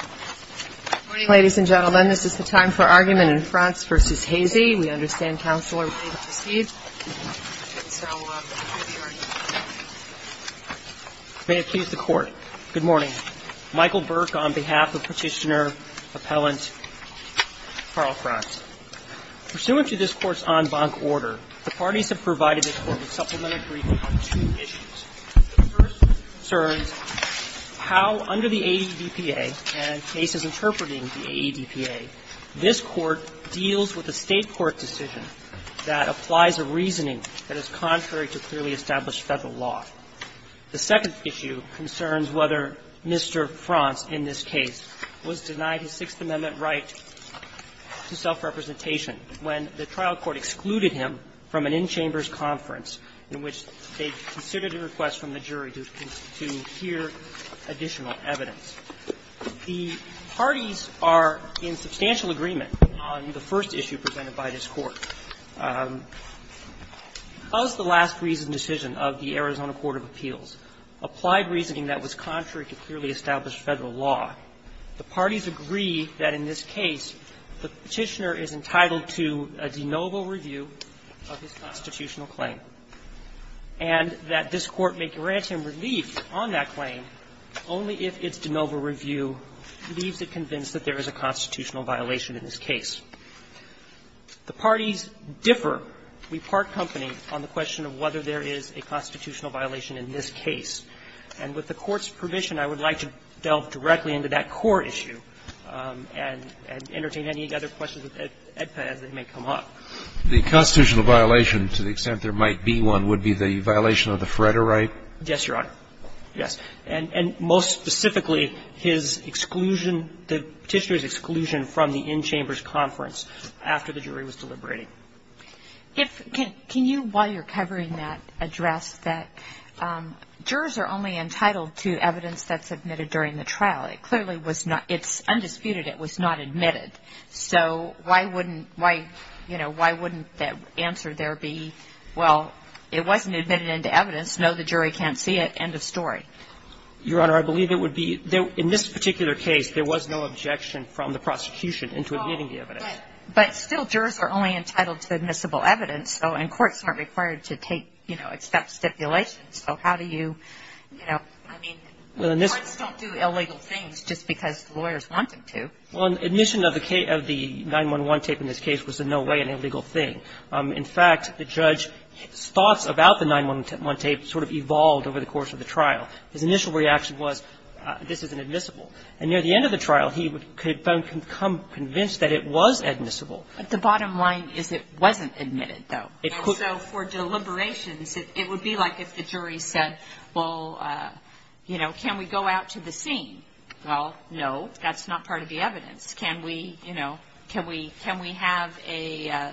Good morning, ladies and gentlemen. This is the time for argument in Frantz v. Hazy. We understand counsel are ready to proceed. May it please the Court. Good morning. Michael Burke on behalf of Petitioner Appellant Karl Frantz. Pursuant to this Court's en banc order, the parties have provided this Court with supplementary briefing on two issues. The first concerns how under the AEDPA and cases interpreting the AEDPA, this Court deals with a State court decision that applies a reasoning that is contrary to clearly established Federal law. The second issue concerns whether Mr. Frantz in this case was denied his Sixth Amendment right to self-representation when the trial court excluded him from an in-chambers conference in which they considered a request from the jury to hear additional evidence. The parties are in substantial agreement on the first issue presented by this Court. Was the last reasoned decision of the Arizona Court of Appeals applied reasoning that was contrary to clearly established Federal law? The parties agree that in this case there is a constitutional violation of his constitutional claim, and that this Court may grant him relief on that claim only if its de novo review leaves it convinced that there is a constitutional violation in this case. The parties differ, we part company, on the question of whether there is a constitutional violation in this case. And with the Court's permission, I would like to delve directly into that core issue and entertain any other questions at EDPA as they may come up. The constitutional violation, to the extent there might be one, would be the violation of the Freder right? Yes, Your Honor. Yes. And most specifically, his exclusion, the Petitioner's exclusion from the in-chambers conference after the jury was deliberating. If you can, while you're covering that, address that jurors are only entitled to evidence that's admitted during the trial. It clearly was not, it's undisputed it was not admitted. So why wouldn't, why, you know, why wouldn't the answer there be, well, it wasn't admitted into evidence, no, the jury can't see it, end of story? Your Honor, I believe it would be, in this particular case, there was no objection from the prosecution into admitting the evidence. But still jurors are only entitled to admissible evidence, and courts aren't required to take, you know, accept stipulations. So how do you, you know, I mean, courts don't do illegal things just because lawyers want them to. Well, admission of the 9-1-1 tape in this case was in no way an illegal thing. In fact, the judge's thoughts about the 9-1-1 tape sort of evolved over the course of the trial. His initial reaction was, this isn't admissible. And near the end of the trial, he would, could then become convinced that it was admissible. But the bottom line is it wasn't admitted, though. So for deliberations, it would be like if the jury said, well, you know, can we go out to the scene? Well, no, that's not part of the evidence. Can we, you know, can we have an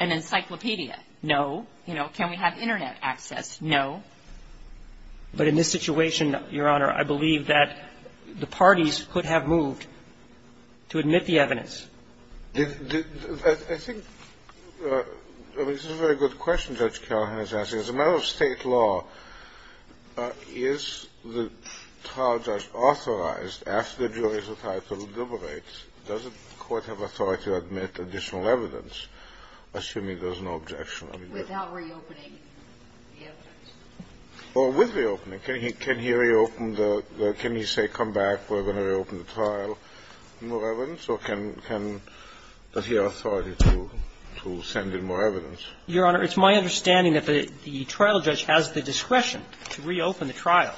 encyclopedia? No. You know, can we have Internet access? No. But in this situation, Your Honor, I believe that the parties could have moved to admit the evidence. I think, I mean, this is a very good question Judge Callahan is asking. As a matter of State law, is the trial judge authorized, after the jury's entitled to deliberate, does the court have authority to admit additional evidence, assuming there's no objection? Without reopening the evidence. Or with reopening. Can he reopen the, can he say, come back, we're going to reopen the trial, more evidence, or can, can, does he have authority to, to send in more evidence? Your Honor, it's my understanding that the, the trial judge has the discretion to reopen the trial,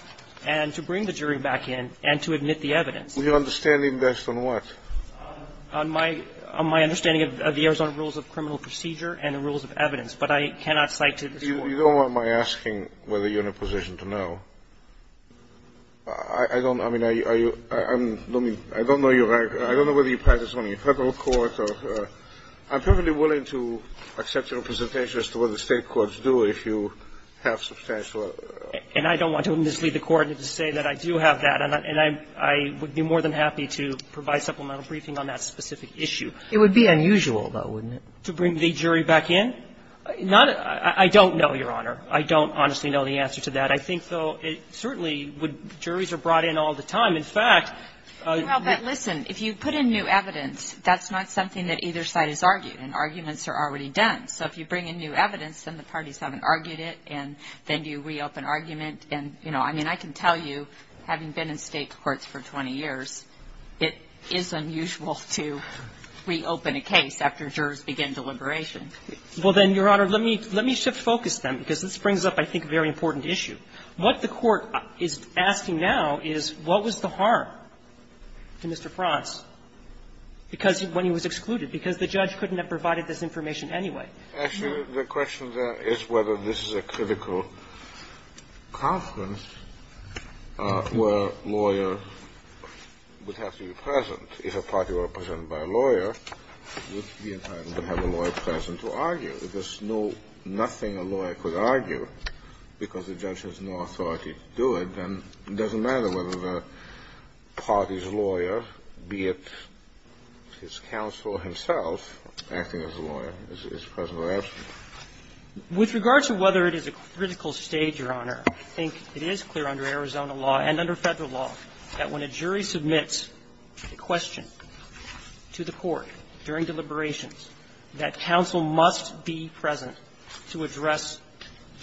and to bring the jury back in, and to admit the evidence. Your understanding based on what? On my, on my understanding of the Arizona Rules of Criminal Procedure and the Rules of Evidence, but I cannot cite to this Court. You don't want my asking whether you're in a position to know. I don't, I mean, are you in, I don't know your, I don't know whether you practice on a Federal court or, I'm perfectly willing to accept your presentation as to what the State courts do, if you have substantial. And I don't want to mislead the Court to say that I do have that, and I, and I, I would be more than happy to provide supplemental briefing on that specific issue. It would be unusual, though, wouldn't it? To bring the jury back in? Not, I, I don't know, Your Honor. I don't honestly know the answer to that. I think, though, it certainly would, juries are brought in all the time. In fact, I don't know. Well, but listen. If you put in new evidence, that's not something that either side has argued. And arguments are already done. So if you bring in new evidence, then the parties haven't argued it. And then you reopen argument. And, you know, I mean, I can tell you, having been in State courts for 20 years, it is unusual to reopen a case after jurors begin deliberation. Well, then, Your Honor, let me, let me shift focus then, because this brings up, I think, a very important issue. What the Court is asking now is, what was the harm to Mr. Frantz because, when he was excluded, because the judge couldn't have provided this information anyway? Actually, the question there is whether this is a critical conference where a lawyer would have to be present. If a party were presented by a lawyer, it would be an item to have a lawyer present to argue. If there's no, nothing a lawyer could argue because the judge has no authority to do it, then it doesn't matter whether the party's lawyer, be it his counsel himself, acting as a lawyer, is present or absent. With regard to whether it is a critical stage, Your Honor, I think it is clear under Arizona law and under Federal law that when a jury submits a question to the Court during deliberations, that counsel must be present to address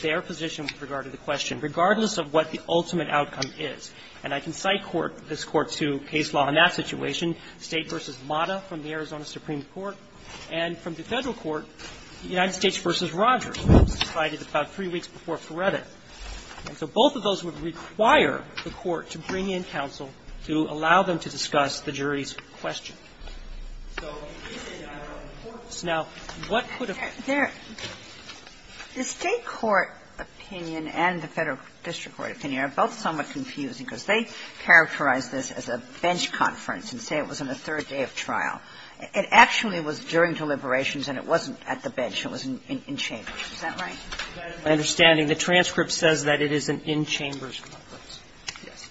their position with regard to the question, regardless of what the ultimate outcome is. And I can cite this Court to case law in that situation, State v. Mata from the Arizona Supreme Court, and from the Federal Court, United States v. Rogers, cited about three weeks before Frederick. And so both of those would require the Court to bring in counsel to allow them to discuss the jury's question. Now, what could have been the State court opinion and the Federal district court opinion are both somewhat confusing, because they characterize this as a bench conference and say it was on the third day of trial. It actually was during deliberations and it wasn't at the bench, it was in chambers. Is that right? My understanding, the transcript says that it is an in-chambers conference. Yes.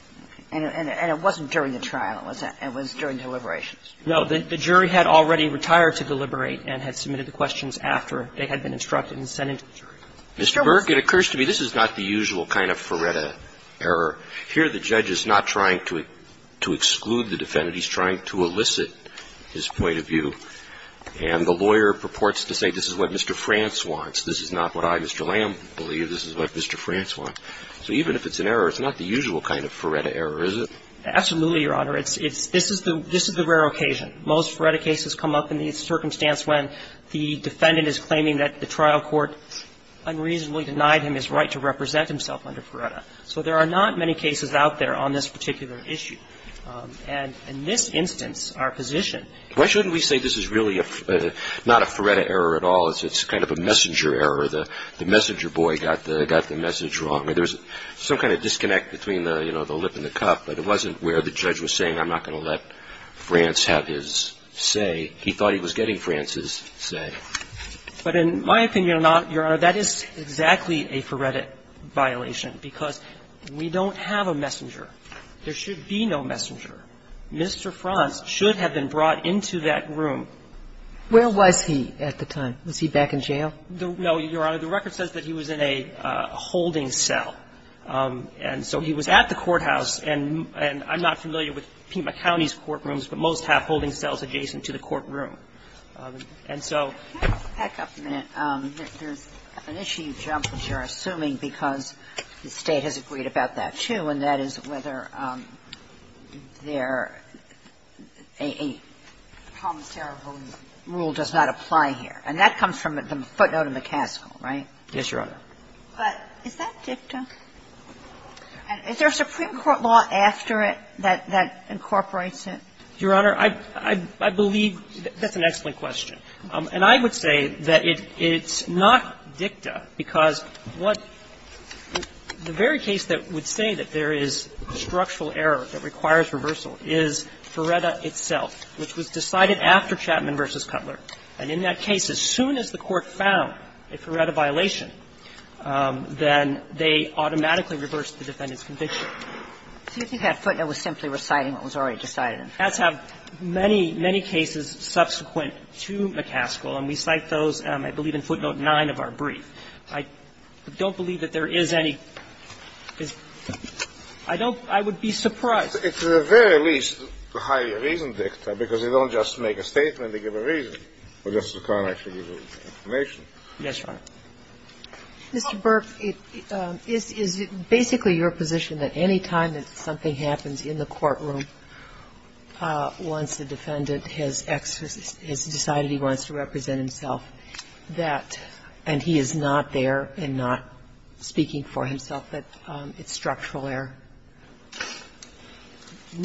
And it wasn't during the trial. It was during deliberations. No. The jury had already retired to deliberate and had submitted the questions after they had been instructed and sent in to the jury. Mr. Burke, it occurs to me this is not the usual kind of Feretta error. Here the judge is not trying to exclude the defendant. He's trying to elicit his point of view. And the lawyer purports to say this is what Mr. France wants. This is not what I, Mr. Lamb, believe. This is what Mr. France wants. So even if it's an error, it's not the usual kind of Feretta error, is it? Absolutely, Your Honor. It's the rare occasion. Most Feretta cases come up in the circumstance when the defendant is claiming that the trial court unreasonably denied him his right to represent himself under Feretta. So there are not many cases out there on this particular issue. And in this instance, our position is that this is not a Feretta error at all. It's kind of a messenger error. The messenger boy got the message wrong. There's some kind of disconnect between the, you know, the lip and the cup. But it wasn't where the judge was saying I'm not going to let France have his say. He thought he was getting France's say. But in my opinion or not, Your Honor, that is exactly a Feretta violation, because we don't have a messenger. There should be no messenger. Mr. France should have been brought into that room. Where was he at the time? Was he back in jail? No, Your Honor. The record says that he was in a holding cell. And so he was at the courthouse. And I'm not familiar with Pima County's courtrooms, but most have holding cells adjacent to the courtroom. And so there's an issue, which you're assuming, because the State has agreed about that, too, and that is whether there, a promissory rule does not apply here. And that comes from the footnote in the cast call, right? Yes, Your Honor. But is that dicta? Is there a Supreme Court law after it that incorporates it? Your Honor, I believe that's an excellent question. And I would say that it's not dicta, because what the very case that would say that there is structural error that requires reversal is Feretta itself, which was decided after Chapman v. Cutler. And in that case, as soon as the court found a Feretta violation, then they automatically reversed the defendant's conviction. So you think that footnote was simply reciting what was already decided? Cuts have many, many cases subsequent to McCaskill, and we cite those, I believe, in footnote 9 of our brief. I don't believe that there is any. I don't – I would be surprised. It's at the very least highly reasoned dicta, because they don't just make a statement. They give a reason, but Justice O'Connor actually gives us information. Yes, Your Honor. Mr. Burke, is it basically your position that any time that something happens in the courtroom, once the defendant has exercised – has decided he wants to represent himself, that – and he is not there and not speaking for himself, that it's structural error?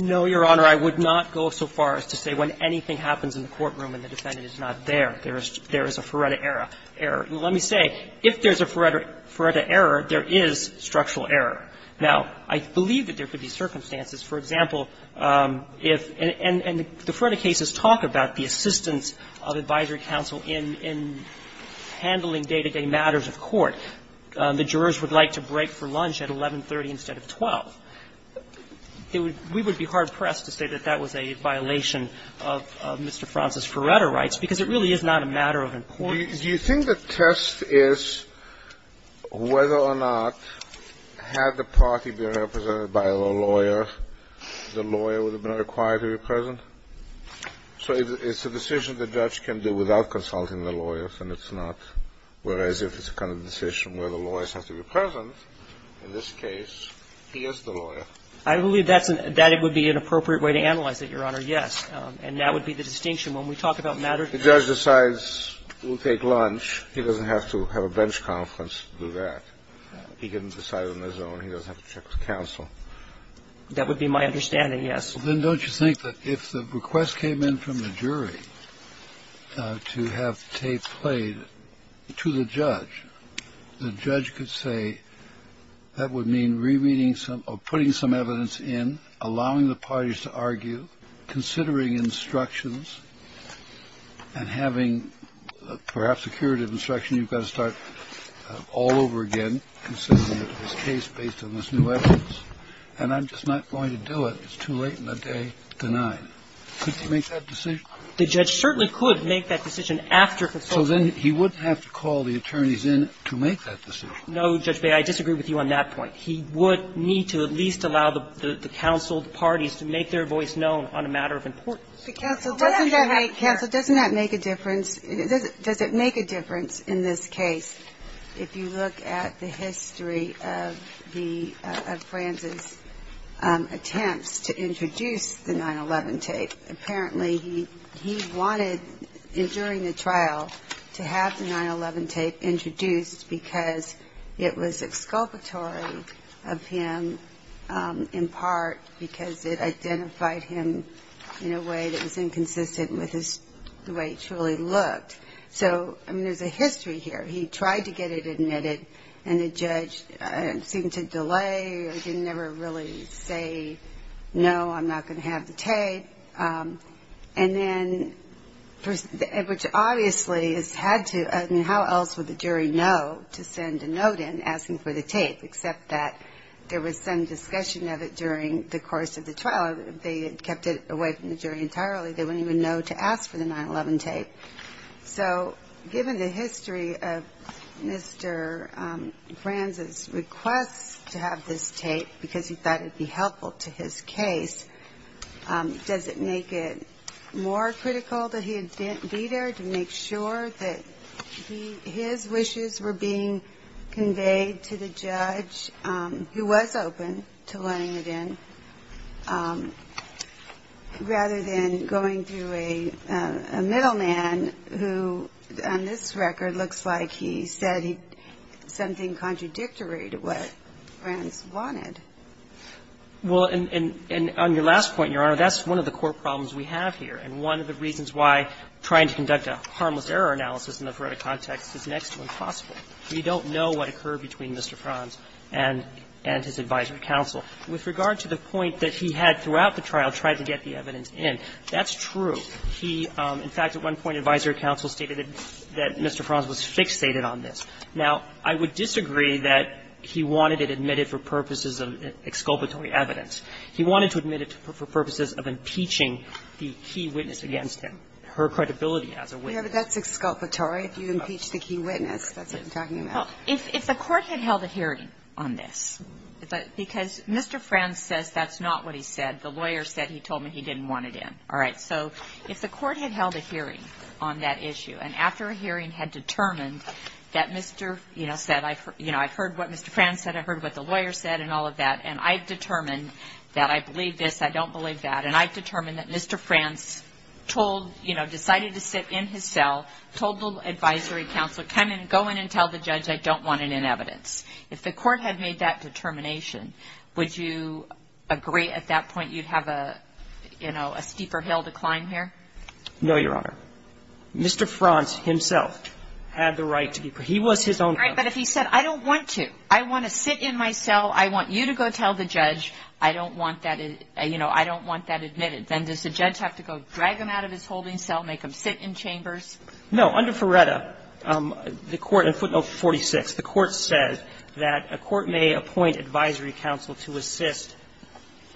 No, Your Honor. I would not go so far as to say when anything happens in the courtroom and the defendant is not there, there is a Feretta error. Let me say, if there is a Feretta error, there is structural error. Now, I believe that there could be circumstances. For example, if – and the Feretta cases talk about the assistance of advisory counsel in handling day-to-day matters of court. The jurors would like to break for lunch at 11.30 instead of 12. It would – we would be hard-pressed to say that that was a violation of Mr. Francis' Feretta rights, because it really is not a matter of importance. Do you think the test is whether or not, had the party been represented by a lawyer, the lawyer would have been required to be present? So it's a decision the judge can do without consulting the lawyers, and it's not. Whereas, if it's a kind of decision where the lawyers have to be present, in this case, he is the lawyer. I believe that's an – that it would be an appropriate way to analyze it, Your Honor, yes. And that would be the distinction. When we talk about matters of court. The judge decides we'll take lunch. He doesn't have to have a bench conference to do that. He can decide on his own. He doesn't have to check with counsel. That would be my understanding, yes. Then don't you think that if the request came in from the jury to have the tape played to the judge, the judge could say that would mean rereading some – or putting some evidence in, allowing the parties to argue, considering instructions, and having perhaps a curative instruction, you've got to start all over again, considering this case based on this new evidence, and I'm just not going to do it. It's too late in the day to deny it. Could he make that decision? The judge certainly could make that decision after consulting the lawyers. So then he wouldn't have to call the attorneys in to make that decision. No, Judge Beyer, I disagree with you on that point. He would need to at least allow the counseled parties to make their voice known on a matter of importance. Counsel, doesn't that make – counsel, doesn't that make a difference? Does it make a difference in this case if you look at the history of the – of Franz's attempts to introduce the 9-11 tape? Apparently, he wanted, during the trial, to have the 9-11 tape introduced because it was exculpatory of him, in part because it identified him in a way that was inconsistent with his – the way it truly looked. So, I mean, there's a history here. He tried to get it admitted, and the judge seemed to delay or didn't ever really say, no, I'm not going to have the tape. And then – which obviously has had to – I mean, how else would the jury know to send a note in asking for the tape, except that there was some discussion of it during the course of the trial. They had kept it away from the jury entirely. They wouldn't even know to ask for the 9-11 tape. So given the history of Mr. Franz's request to have this tape because he thought it would be helpful to his case, does it make it more critical that he be there to make sure that his wishes were being conveyed to the judge, who was open to letting it in, rather than going through a middleman who, on this record, looks like he said something contradictory to what Franz wanted? Well, and on your last point, Your Honor, that's one of the core problems we have here, and one of the reasons why trying to conduct a harmless error analysis in the forensic context is next to impossible. We don't know what occurred between Mr. Franz and his advisory counsel. With regard to the point that he had throughout the trial tried to get the evidence in, that's true. He, in fact, at one point advisory counsel stated that Mr. Franz was fixated on this. Now, I would disagree that he wanted it admitted for purposes of exculpatory evidence. He wanted to admit it for purposes of impeaching the key witness against him, her credibility as a witness. Yeah, but that's exculpatory, if you impeach the key witness. That's what I'm talking about. Well, if the Court had held a hearing on this, because Mr. Franz says that's not what he said. The lawyer said he told me he didn't want it in. All right. So, if the Court had held a hearing on that issue, and after a hearing had determined that Mr. said, I've heard what Mr. Franz said, I've heard what the lawyer said, and all of that, and I've determined that I believe this, I don't believe that, and I've determined that Mr. Franz told, you know, decided to sit in his cell, told the advisory counsel, come in, go in and tell the judge I don't want it in evidence. If the Court had made that determination, would you agree at that point you'd have a, you know, a steeper hill to climb here? No, Your Honor. Mr. Franz himself had the right to be prisoner. He was his own judge. All right. But if he said, I don't want to, I want to sit in my cell, I want you to go tell the judge I don't want that, you know, I don't want that admitted, then does the judge have to go drag him out of his holding cell, make him sit in chambers? No. Under Ferretta, the Court in footnote 46, the Court says that a court may appoint an advisory counsel to assist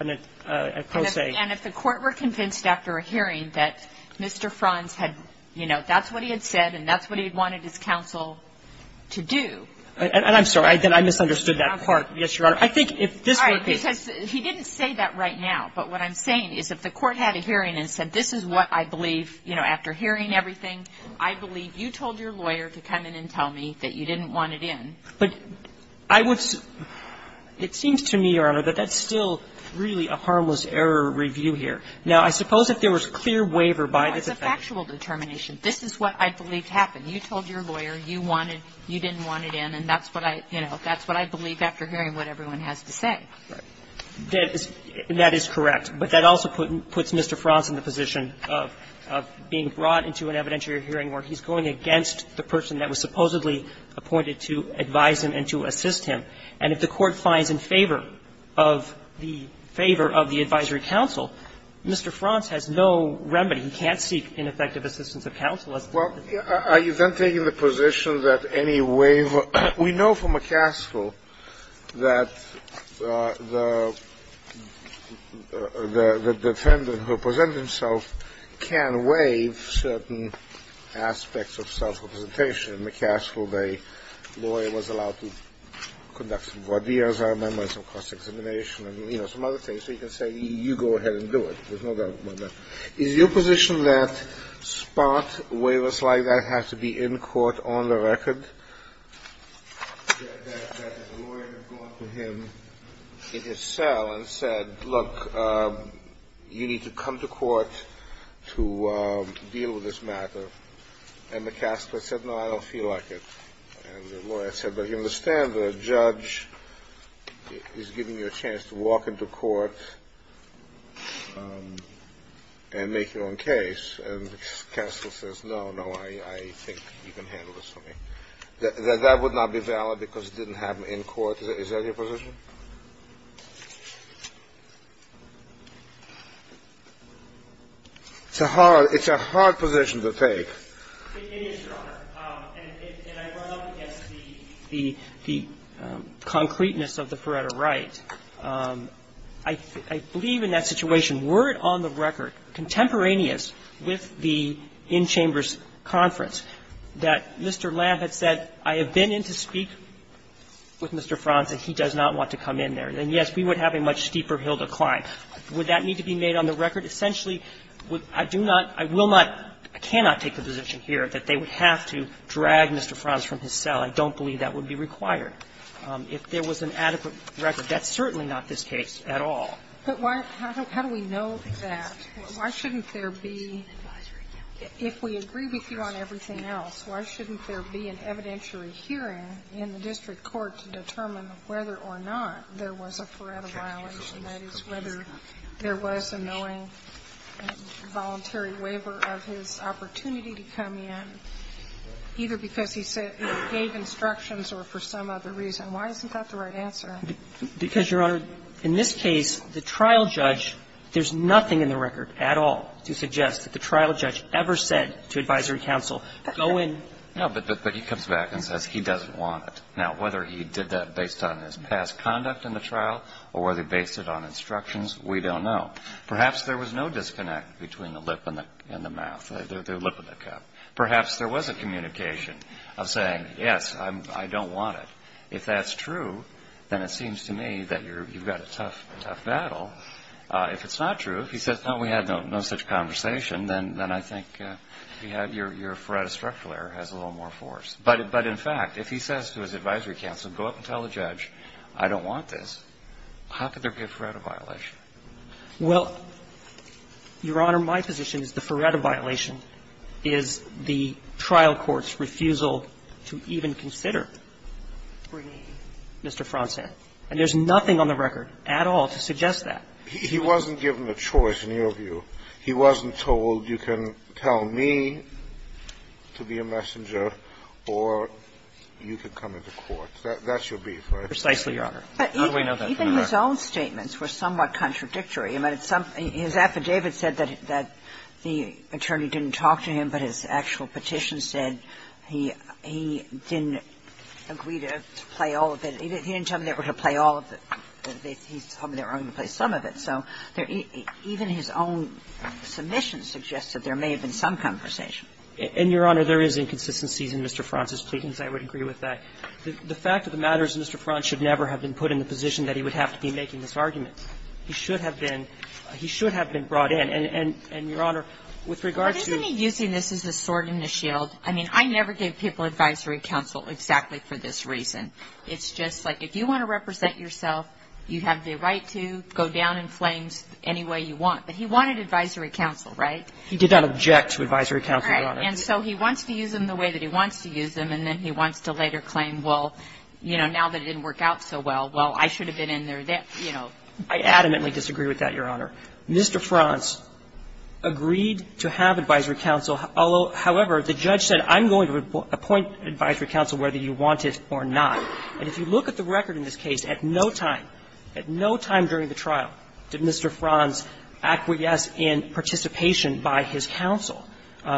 a pro se. And if the Court were convinced after a hearing that Mr. Franz had, you know, that's what he had said and that's what he had wanted his counsel to do. And I'm sorry, I misunderstood that part. Yes, Your Honor. I think if this were a case. All right. Because he didn't say that right now. But what I'm saying is if the Court had a hearing and said this is what I believe, you know, after hearing everything, I believe you told your lawyer to come in and tell me that you didn't want it in. But I would say, it seems to me, Your Honor, that that's still really a harmless error review here. Now, I suppose if there was clear waiver by this effect. No, it's a factual determination. This is what I believe happened. You told your lawyer you wanted you didn't want it in, and that's what I, you know, that's what I believe after hearing what everyone has to say. Right. That is correct. But that also puts Mr. Franz in the position of being brought into an evidentiary hearing where he's going against the person that was supposedly appointed to advise him and to assist him. And if the Court finds in favor of the advisory counsel, Mr. Franz has no remedy. He can't seek ineffective assistance of counsel. Well, are you then taking the position that any waiver we know from McCaskill that the defendant who presented himself can waive certain aspects of self-representation? McCaskill, the lawyer, was allowed to conduct some voir dire, some cross-examination, and, you know, some other things. So you can say, you go ahead and do it. There's no doubt about that. Is your position that spot waivers like that have to be in court on the record? That the lawyer had gone to him in his cell and said, look, you need to come to court to deal with this matter. And McCaskill said, no, I don't feel like it. And the lawyer said, but you understand the judge is giving you a chance to walk into court and make your own case. And McCaskill says, no, no, I think you can handle this for me. That would not be valid because it didn't happen in court. Is that your position? It's a hard position to take. And I run up against the concreteness of the Pareto right. I believe in that situation, were it on the record contemporaneous with the in-chambers conference, that Mr. Lamb had said, I have been in to speak with Mr. Franz and he does not want to come in there, then, yes, we would have a much steeper hill to climb. Would that need to be made on the record? Essentially, I do not, I will not, I cannot take the position here that they would have to drag Mr. Franz from his cell. I don't believe that would be required. If there was an adequate record, that's certainly not this case at all. But why, how do we know that? Why shouldn't there be, if we agree with you on everything else, why shouldn't there be an evidentiary hearing in the district court to determine whether or not there was a Pareto violation, that is, whether there was a knowing, voluntary waiver of his opportunity to come in, either because he said, gave instructions or for some other reason? Why isn't that the right answer? Because, Your Honor, in this case, the trial judge, there's nothing in the record at all to suggest that the trial judge ever said to advisory counsel, go in. No, but he comes back and says he doesn't want it. Now, whether he did that based on his past conduct in the trial or whether he based it on instructions, we don't know. Perhaps there was no disconnect between the lip and the mouth, the lip and the cup. Perhaps there was a communication of saying, yes, I don't want it. If that's true, then it seems to me that you've got a tough, tough battle. If it's not true, if he says, no, we had no such conversation, then I think your Pareto structural error has a little more force. But in fact, if he says to his advisory counsel, go up and tell the judge, I don't want this, how could there be a Pareto violation? Well, Your Honor, my position is the Pareto violation is the trial court's refusal to even consider Mr. Fronsen, and there's nothing on the record at all to suggest that. He wasn't given a choice, in your view. He wasn't told, you can tell me to be a messenger or you can come into court. That's your brief, right? Precisely, Your Honor. Even his own statements were somewhat contradictory. I mean, his affidavit said that the attorney didn't talk to him, but his actual petition said he didn't agree to play all of it. He didn't tell him they were going to play all of it. He told me they were only going to play some of it. So even his own submission suggested there may have been some conversation. And, Your Honor, there is inconsistencies in Mr. Fronsen's plea, and I would agree with that. The fact of the matter is Mr. Fronsen should never have been put in the position that he would have to be making this argument. He should have been brought in. I mean, I never gave people advisory counsel exactly for this reason. It's just like, if you want to represent yourself, you have the right to go down in flames any way you want. But he wanted advisory counsel, right? He did not object to advisory counsel, Your Honor. Right. And so he wants to use them the way that he wants to use them, and then he wants to later claim, well, you know, now that it didn't work out so well, well, I should have been in there, you know. I adamantly disagree with that, Your Honor. Mr. Frons agreed to have advisory counsel, however, the judge said, I'm going to appoint advisory counsel whether you want it or not. And if you look at the record in this case, at no time, at no time during the trial did Mr. Frons acquiesce in participation by his counsel.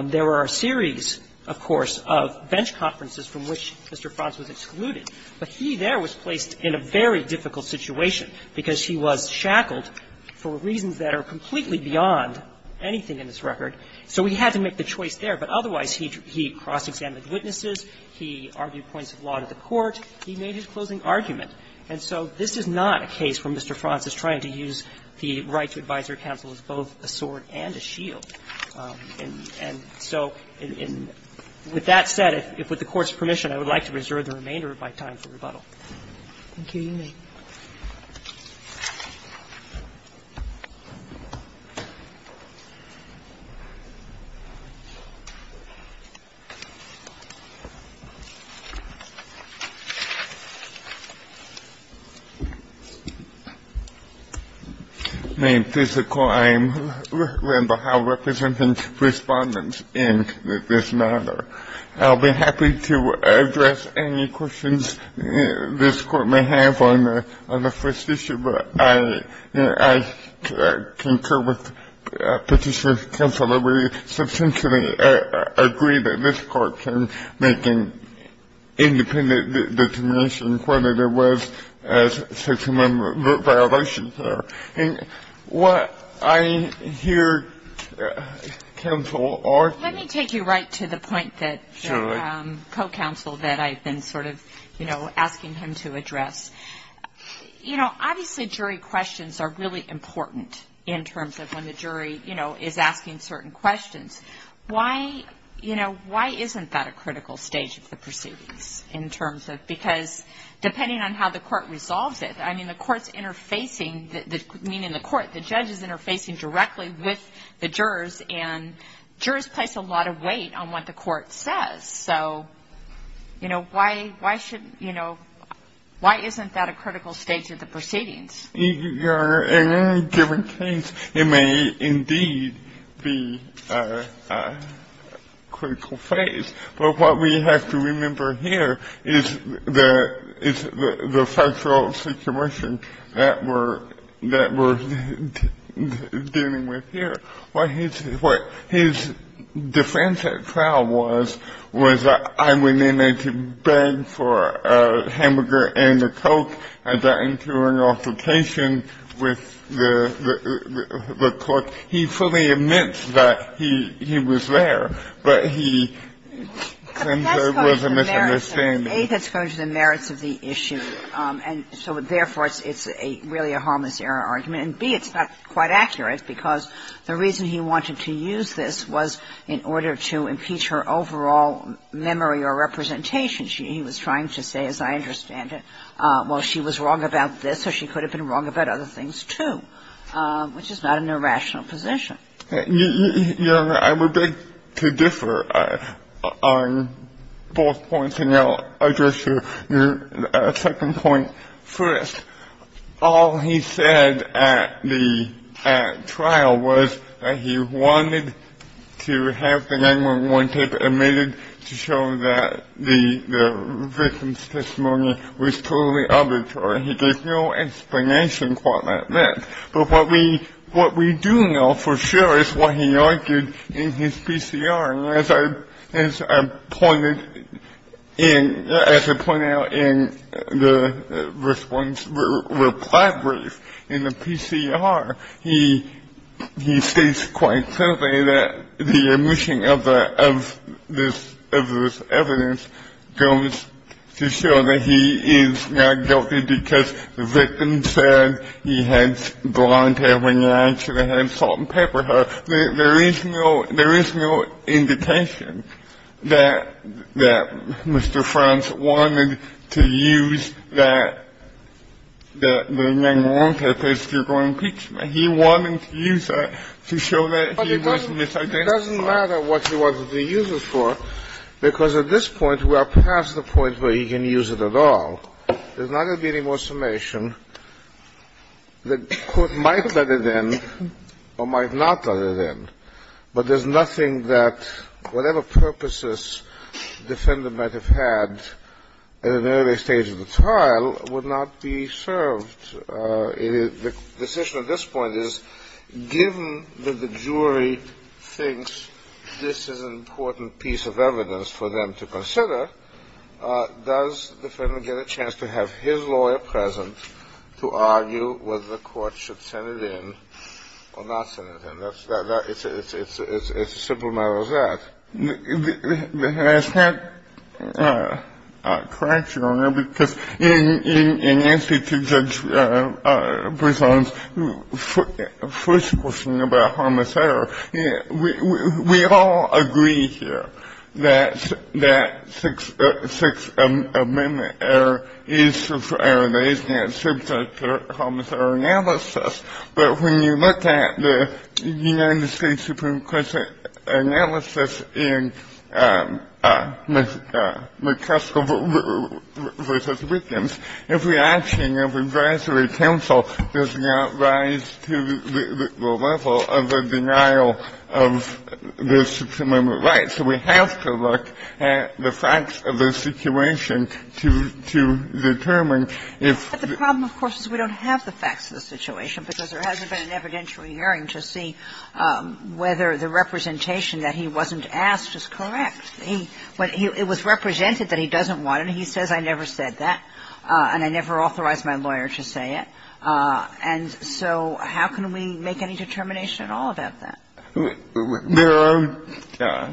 There were a series, of course, of bench conferences from which Mr. Frons was excluded. But he there was placed in a very difficult situation because he was shackled for reasons that are completely beyond anything in this record. So he had to make the choice there. But otherwise, he cross-examined witnesses, he argued points of law to the court, he made his closing argument. And so this is not a case where Mr. Frons is trying to use the right to advisory counsel as both a sword and a shield. And so with that said, if with the Court's permission, I would like to reserve the remainder of my time for rebuttal. Thank you. You may. My name is Randall Howe, representing respondents in this matter. I'll be happy to address any questions this Court may have on the first issue. But I concur with Petitioner's counsel that we substantially agree that this Court can make an independent determination as to whether there was such a member of the violations there. Let me take you right to the point that the co-counsel that I've been sort of, you know, asking him to address. You know, obviously, jury questions are really important in terms of when the jury, you know, is asking certain questions. Why, you know, why isn't that a critical stage of the proceedings in terms of, because depending on how the Court resolves it, I mean, the Court's interfacing, meaning the Court, the judge is interfacing directly with the jurors and jurors place a lot of weight on what the Court says. So, you know, why, why shouldn't, you know, why isn't that a critical stage of the proceedings? Your Honor, in any given case, it may indeed be a critical phase. But what we have to remember here is the factual situation that we're dealing with here. What his defense at trial was, was that I went in to beg for a hamburger and a Coke and got into an altercation with the Cook. He fully admits that he was there, but he claims there was a misunderstanding. But that's going to the merits of the issue. And so therefore, it's really a harmless error argument. And, B, it's not quite accurate, because the reason he wanted to use this was in order to impeach her overall memory or representation. He was trying to say, as I understand it, well, she was wrong about this, or she could have been wrong about other things, too, which is not an irrational position. Your Honor, I would beg to differ on both points. And I'll address your second point first. All he said at the trial was that he wanted to have the 911 tape omitted to show that the victim's testimony was totally arbitrary. He gave no explanation for that myth. But what we do know for sure is what he argued in his PCR. And as I pointed out in the response reply brief in the PCR, he states quite simply that the omission of this evidence goes to show that he is not guilty because the victim said he had blonde hair when he actually had salt and pepper hair. There is no indication that Mr. Franz wanted to use that 911 tape as to go and impeach him. He wanted to use that to show that he was misidentified. It doesn't matter what he wanted to use it for, because at this point we are past the point where he can use it at all. There's not going to be any more summation. The court might let it in or might not let it in. But there's nothing that whatever purposes the defendant might have had at an early stage of the trial would not be served. The decision at this point is given that the jury thinks this is an important piece of evidence for them to consider, does the defendant get a chance to have his lawyer present to argue whether the court should send it in or not send it in? It's a simple matter as that. I just have a correction on that, because in answer to Judge Brisson's first question about homicidal, we all agree here that that Sixth Amendment error is an error that is not subject to homicidal analysis. But when you look at the United States Supreme Court's analysis in McCaskill v. Wiggins, every option of advisory counsel does not rise to the level of the denial of the Sixth Amendment right. So we have to look at the facts of the situation to determine if the ---- Because there hasn't been an evidentiary hearing to see whether the representation that he wasn't asked is correct. It was represented that he doesn't want it. He says, I never said that, and I never authorized my lawyer to say it. And so how can we make any determination at all about that? There are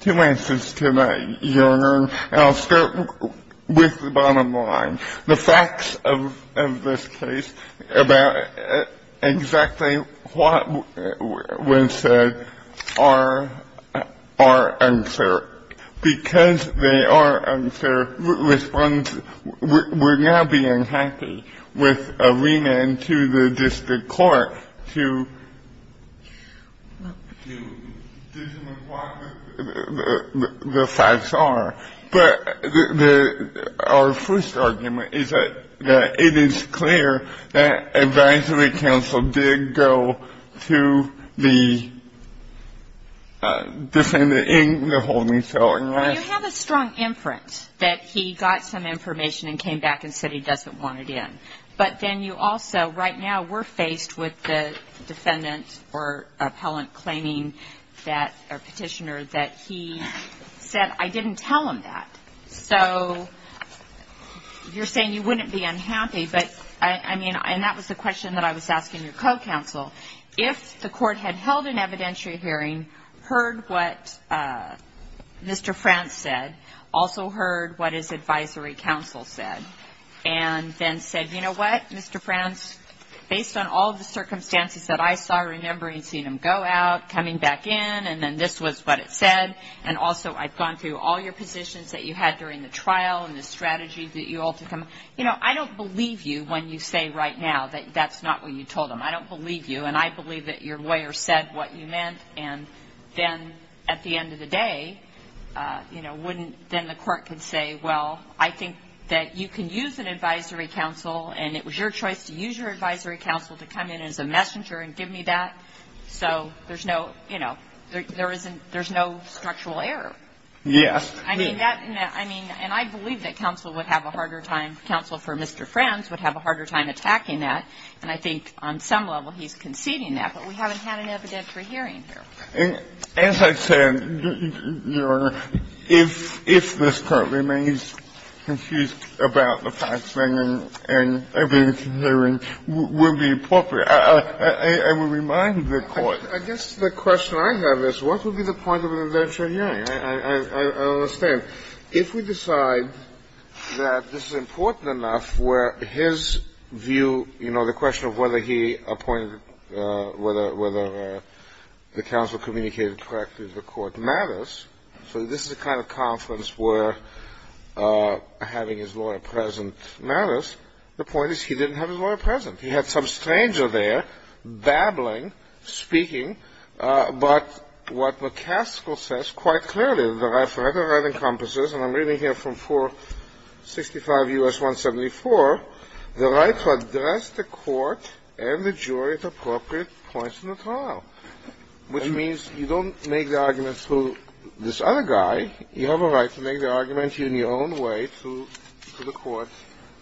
two answers to that, Your Honor, and I'll start with the bottom line. The facts of this case about exactly what was said are uncertain. Because they are uncertain, we're now being happy with a remand to the district court to determine what the facts are. But our first argument is that it is clear that advisory counsel did go to the defendant in the holding cell and not ---- Well, you have a strong inference that he got some information and came back and said he doesn't want it in. But then you also, right now, we're faced with the defendant or appellant claiming that or petitioner that he said, I didn't tell him that. So you're saying you wouldn't be unhappy. But, I mean, and that was the question that I was asking your co-counsel. If the court had held an evidentiary hearing, heard what Mr. France said, also heard what his advisory counsel said, and then said, you know what, Mr. France, based on all the circumstances that I saw, remembering seeing him go out, coming back in, and then this was what it said, and also I've gone through all your positions that you had during the trial and the strategy that you all took on. You know, I don't believe you when you say right now that that's not what you told him. I don't believe you, and I believe that your lawyer said what you meant. And then, at the end of the day, you know, wouldn't, then the court could say, well, I think that you can use an advisory counsel, and it was your choice to use your advisory counsel to come in as a messenger and give me that. So there's no, you know, there isn't – there's no structural error. I mean, that – I mean, and I believe that counsel would have a harder time, counsel for Mr. France would have a harder time attacking that, and I think on some level he's conceding that. But we haven't had an evidentiary hearing here. And as I said, Your Honor, if this court remains confused about the fact that an evidentiary hearing wouldn't be appropriate, I would remind the court – I guess the question I have is, what would be the point of an evidentiary hearing? I don't understand. If we decide that this is important enough where his view, you know, the question of whether he appointed – whether the counsel communicated correctly to the court matters, so this is the kind of conference where having his lawyer present matters. The point is he didn't have his lawyer present. He had some stranger there babbling, speaking, but what McCaskill says quite clearly, the right for rhetoric encompasses, and I'm reading here from 465 U.S. 174, the right to address the court and the jury at appropriate points in the trial, which means you don't make the argument through this other guy. You have a right to make the argument in your own way to the court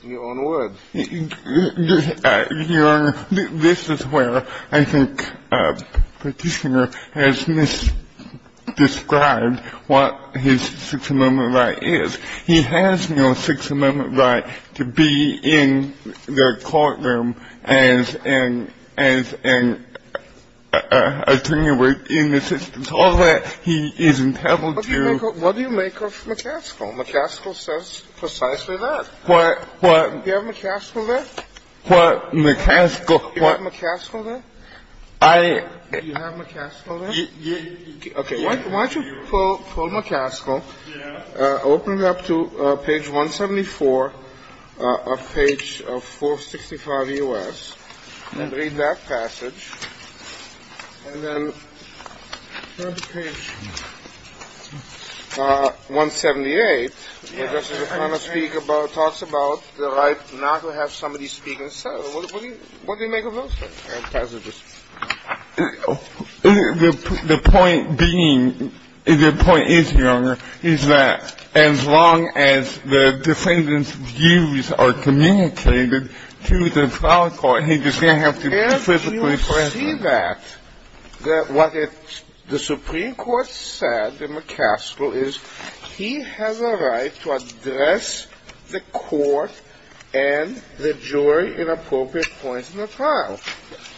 in your own words. Your Honor, this is where I think Petitioner has misdescribed what his Sixth Amendment right is. He has no Sixth Amendment right to be in the courtroom as an attorney within the system. Go to page 178, where Justice O'Connor speaks about – talks about the right not to have somebody speak instead. What do you make of those things? The point being – the point is, Your Honor, is that as long as the defendant's views are communicated to the trial court, he's just going to have to be physically present. I see that, that what the Supreme Court said in McCaskill is he has a right to address the court and the jury at appropriate points in the trial.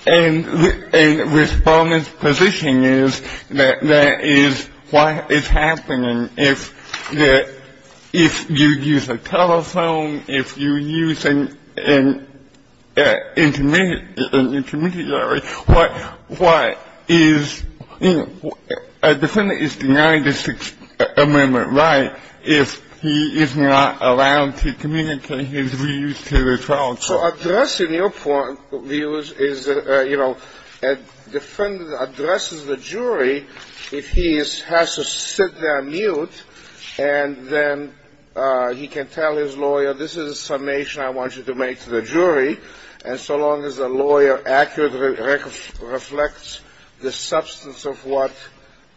And Respondent's position is that that is what is happening. If you use a telephone, if you use an intermediary, what is – a defendant is denied the Sixth Amendment right if he is not allowed to communicate his views to the trial court. So addressing your views is – you know, a defendant addresses the jury if he has to sit there mute and then he can tell his lawyer, this is a summation I want you to make to the jury. And so long as the lawyer accurately reflects the substance of what –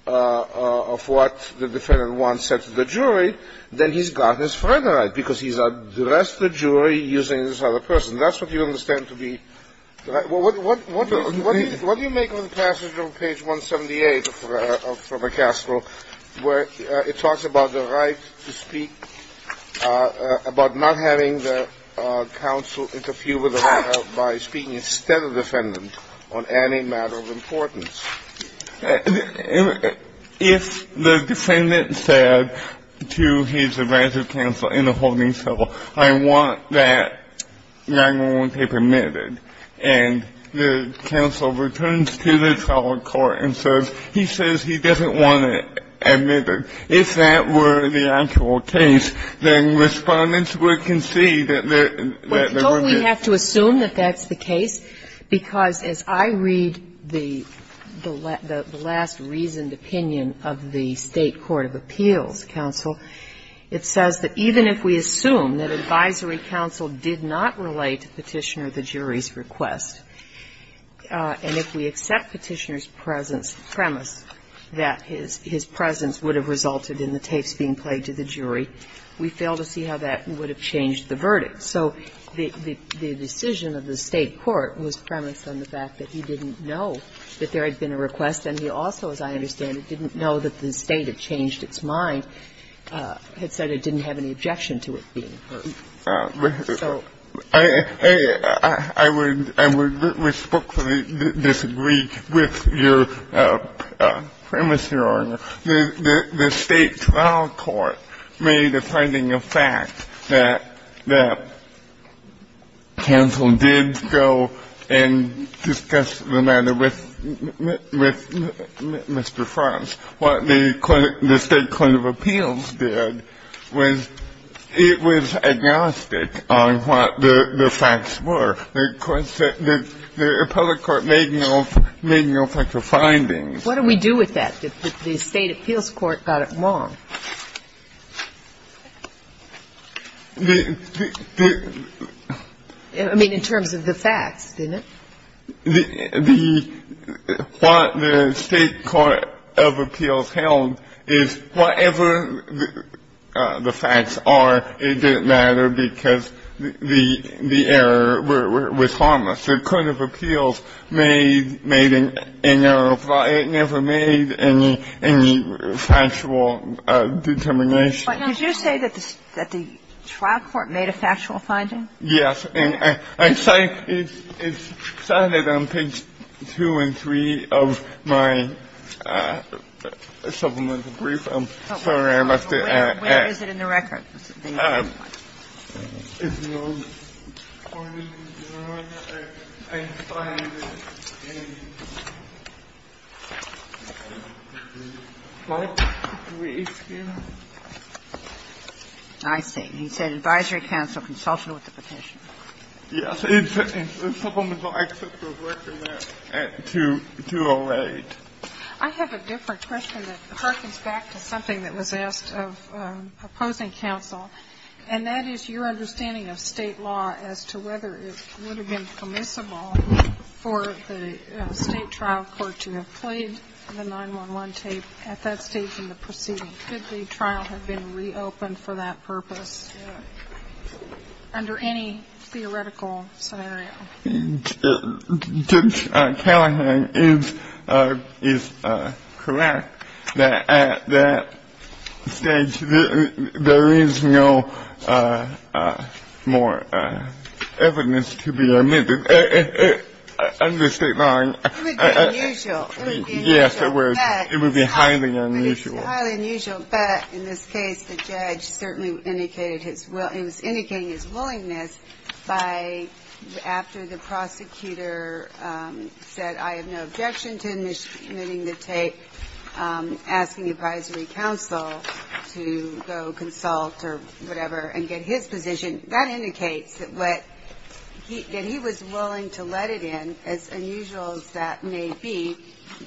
of what the defendant wants said to the jury, then he's got his further right because he's addressed the jury using this other person. That's what you understand to be – what do you make of the passage on page 178 of McCaskill where it talks about the right to speak, about not having the counsel interfere with the right by speaking instead of the defendant on any matter of importance? If the defendant said to his advanced counsel in the holding cell, I want that 9-1-1 tape omitted, and the counsel returns to the trial court and says, he says he doesn't want it omitted, if that were the actual case, then Respondent's would concede that there – that there Now, in the last reasoned opinion of the State Court of Appeals counsel, it says that even if we assume that advisory counsel did not relate to Petitioner the jury's request, and if we accept Petitioner's premise that his presence would have resulted in the tapes being played to the jury, we fail to see how that would have changed the verdict. So the decision of the State court was premised on the fact that he didn't know that there had been a request, and he also, as I understand it, didn't know that the State had changed its mind, had said it didn't have any objection to it being heard. I would respectfully disagree with your premise, Your Honor. The State trial court made a finding of fact that counsel did go and discuss the matter with Mr. Frantz. What the State Court of Appeals did was it was agnostic on what the facts were. The appellate court made no such findings. What do we do with that, that the State appeals court got it wrong? I mean, in terms of the facts, didn't it? What the State court of appeals held is whatever the facts are, it didn't matter because the error was harmless. The Court of Appeals never made any factual determination. But did you say that the trial court made a factual finding? Yes. And it's cited on page 2 and 3 of my supplemental brief. I'm sorry I left it at that. Where is it in the records? It's in the old court of appeals, Your Honor. I find it in the full brief here. I see. He said advisory counsel consulted with the petition. Yes. It's in the supplemental access to the record there at 208. I have a different question that harkens back to something that was asked of opposing counsel, and that is your understanding of State law as to whether it would have been permissible for the State trial court to have played the 9-1-1 tape at that stage in the proceeding. Could the trial have been reopened for that purpose under any theoretical scenario? Judge Callahan is correct that at that stage there is no more evidence to be admitted under State law. It would be unusual. Yes, it would. It would be highly unusual. It would be highly unusual. But in this case, the judge certainly indicated his will. After the prosecutor said, I have no objection to admitting the tape, asking the advisory counsel to go consult or whatever and get his position, that indicates that he was willing to let it in, as unusual as that may be,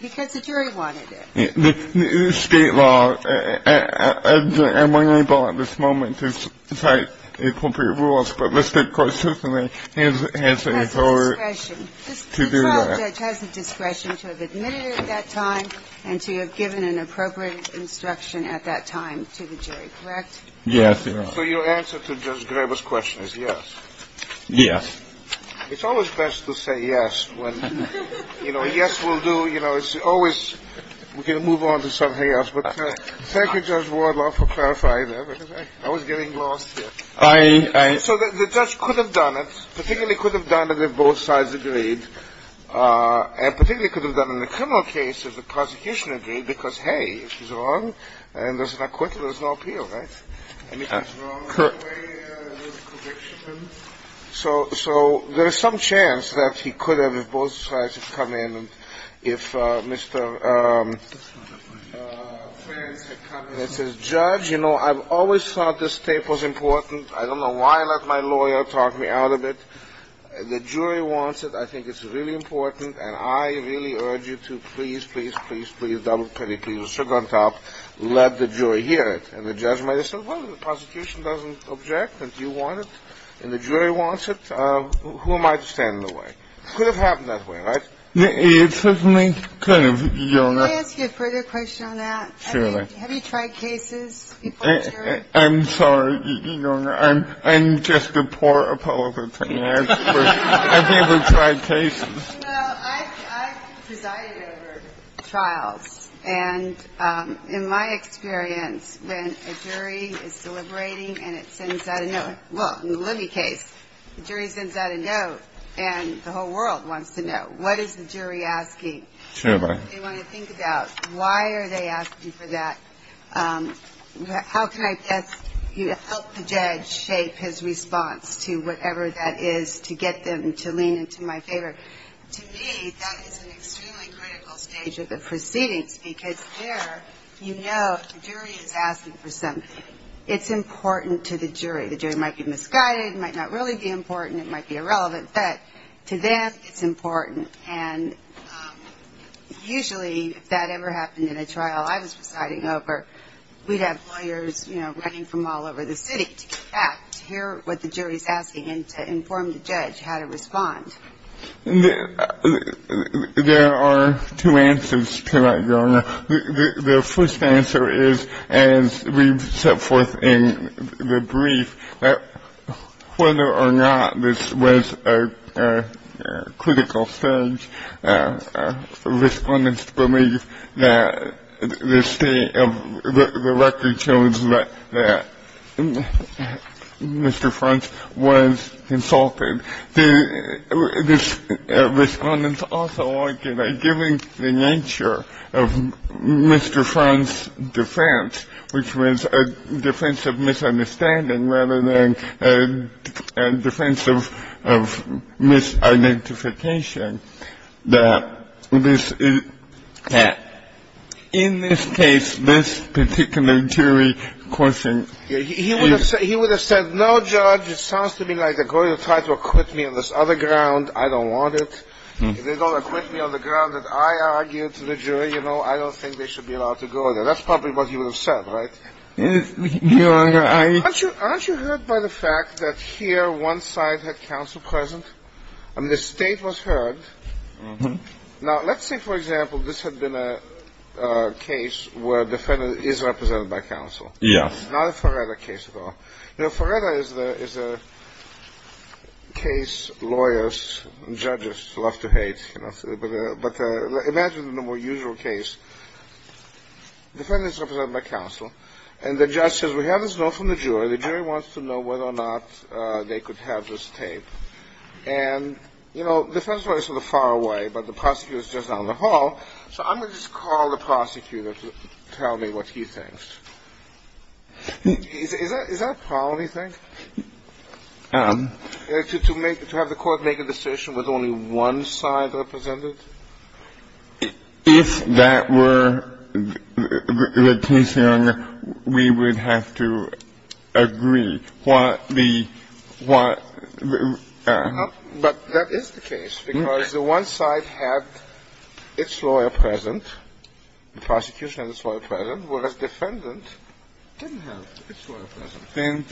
because the jury wanted it. State law, I'm unable at this moment to cite appropriate rules, but the State court certainly has a authority to do that. The trial judge has the discretion to have admitted it at that time and to have given an appropriate instruction at that time to the jury, correct? Yes, Your Honor. So your answer to Judge Graber's question is yes? Yes. It's always best to say yes when, you know, a yes will do. You know, it's always we can move on to something else. But thank you, Judge Wardlaw, for clarifying that, because I was getting lost here. So the judge could have done it, particularly could have done it if both sides agreed, and particularly could have done it in the criminal case if the prosecution agreed, because, hey, if he's wrong and there's an acquittal, there's no appeal, right? So there's some chance that he could have, if both sides had come in, if Mr. Frantz had come in and said, Judge, you know, I've always thought this tape was important. I don't know why I let my lawyer talk me out of it. The jury wants it. I think it's really important. And I really urge you to please, please, please, please, please, double penny, please, sugar on top, let the jury hear it. And the judge might have said, well, if the prosecution doesn't object and you want it and the jury wants it, who am I to stand in the way? It could have happened that way, right? It certainly could have. Can I ask you a further question on that? Surely. Have you tried cases before the jury? I'm sorry. You know, I'm just a poor appellate attorney. I've never tried cases. Well, I've presided over trials. And in my experience, when a jury is deliberating and it sends out a note, well, in the Libby case, the jury sends out a note and the whole world wants to know, what is the jury asking? What do they want to think about? Why are they asking for that? How can I best help the judge shape his response to whatever that is to get them to lean into my favor? To me, that is an extremely critical stage of the proceedings because there you know the jury is asking for something. It's important to the jury. The jury might be misguided, it might not really be important, it might be irrelevant, but to them it's important. And usually, if that ever happened in a trial I was presiding over, we'd have lawyers, you know, running from all over the city to get back to hear what the jury is asking and to inform the judge how to respond. There are two answers to that, Joanna. The first answer is, as we've set forth in the brief, that whether or not this was a critical stage, respondents believe that the state of the record shows that Mr. French was insulted. Respondents also argue that given the nature of Mr. French's defense, which was a defense of misunderstanding rather than a defense of misidentification, that in this case, this particular jury question is... If they don't acquit me on this other ground, I don't want it. If they don't acquit me on the ground that I argued to the jury, you know, I don't think they should be allowed to go there. That's probably what you would have said, right? Aren't you hurt by the fact that here one side had counsel present? I mean, the state was heard. Now, let's say, for example, this had been a case where a defendant is represented by counsel. Yes. Not a Faretta case at all. You know, Faretta is a case lawyers and judges love to hate, but imagine the more usual case. Defendant is represented by counsel, and the judge says, we have this note from the jury, the jury wants to know whether or not they could have this tape. And, you know, the defense lawyer is sort of far away, but the prosecutor is just down the hall, so I'm going to just call the prosecutor to tell me what he thinks. Is that a problem, you think? To have the court make a decision with only one side represented? If that were the case, Your Honor, we would have to agree what the one. But that is the case, because the one side had its lawyer present, the prosecution had its lawyer present, whereas defendant didn't have its lawyer present.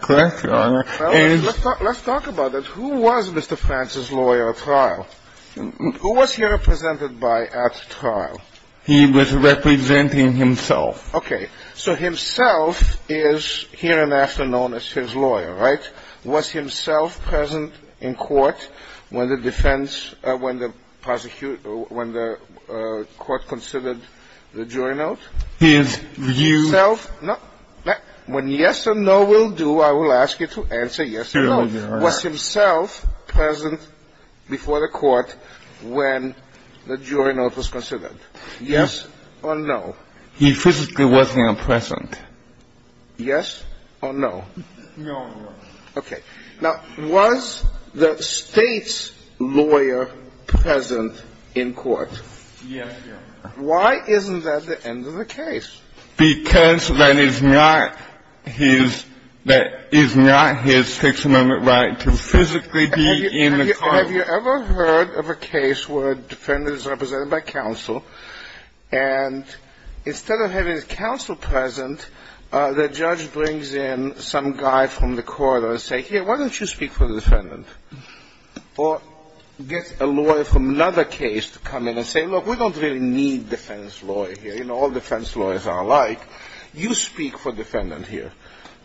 Correct, Your Honor. Let's talk about it. Who was Mr. France's lawyer at trial? Who was he represented by at trial? He was representing himself. Okay. So himself is hereinafter known as his lawyer, right? Was himself present in court when the defense, when the prosecution, when the court considered the jury note? His view. When yes or no will do, I will ask you to answer yes or no. Was himself present before the court when the jury note was considered? Yes. Or no? He physically wasn't present. Yes or no? No, Your Honor. Okay. Now, was the State's lawyer present in court? Yes, Your Honor. Why isn't that the end of the case? Because that is not his, that is not his Sixth Amendment right to physically be in the courtroom. Now, have you ever heard of a case where a defendant is represented by counsel, and instead of having his counsel present, the judge brings in some guy from the court and says, here, why don't you speak for the defendant? Or gets a lawyer from another case to come in and say, look, we don't really need a defense lawyer here. You know, all defense lawyers are alike. You speak for the defendant here.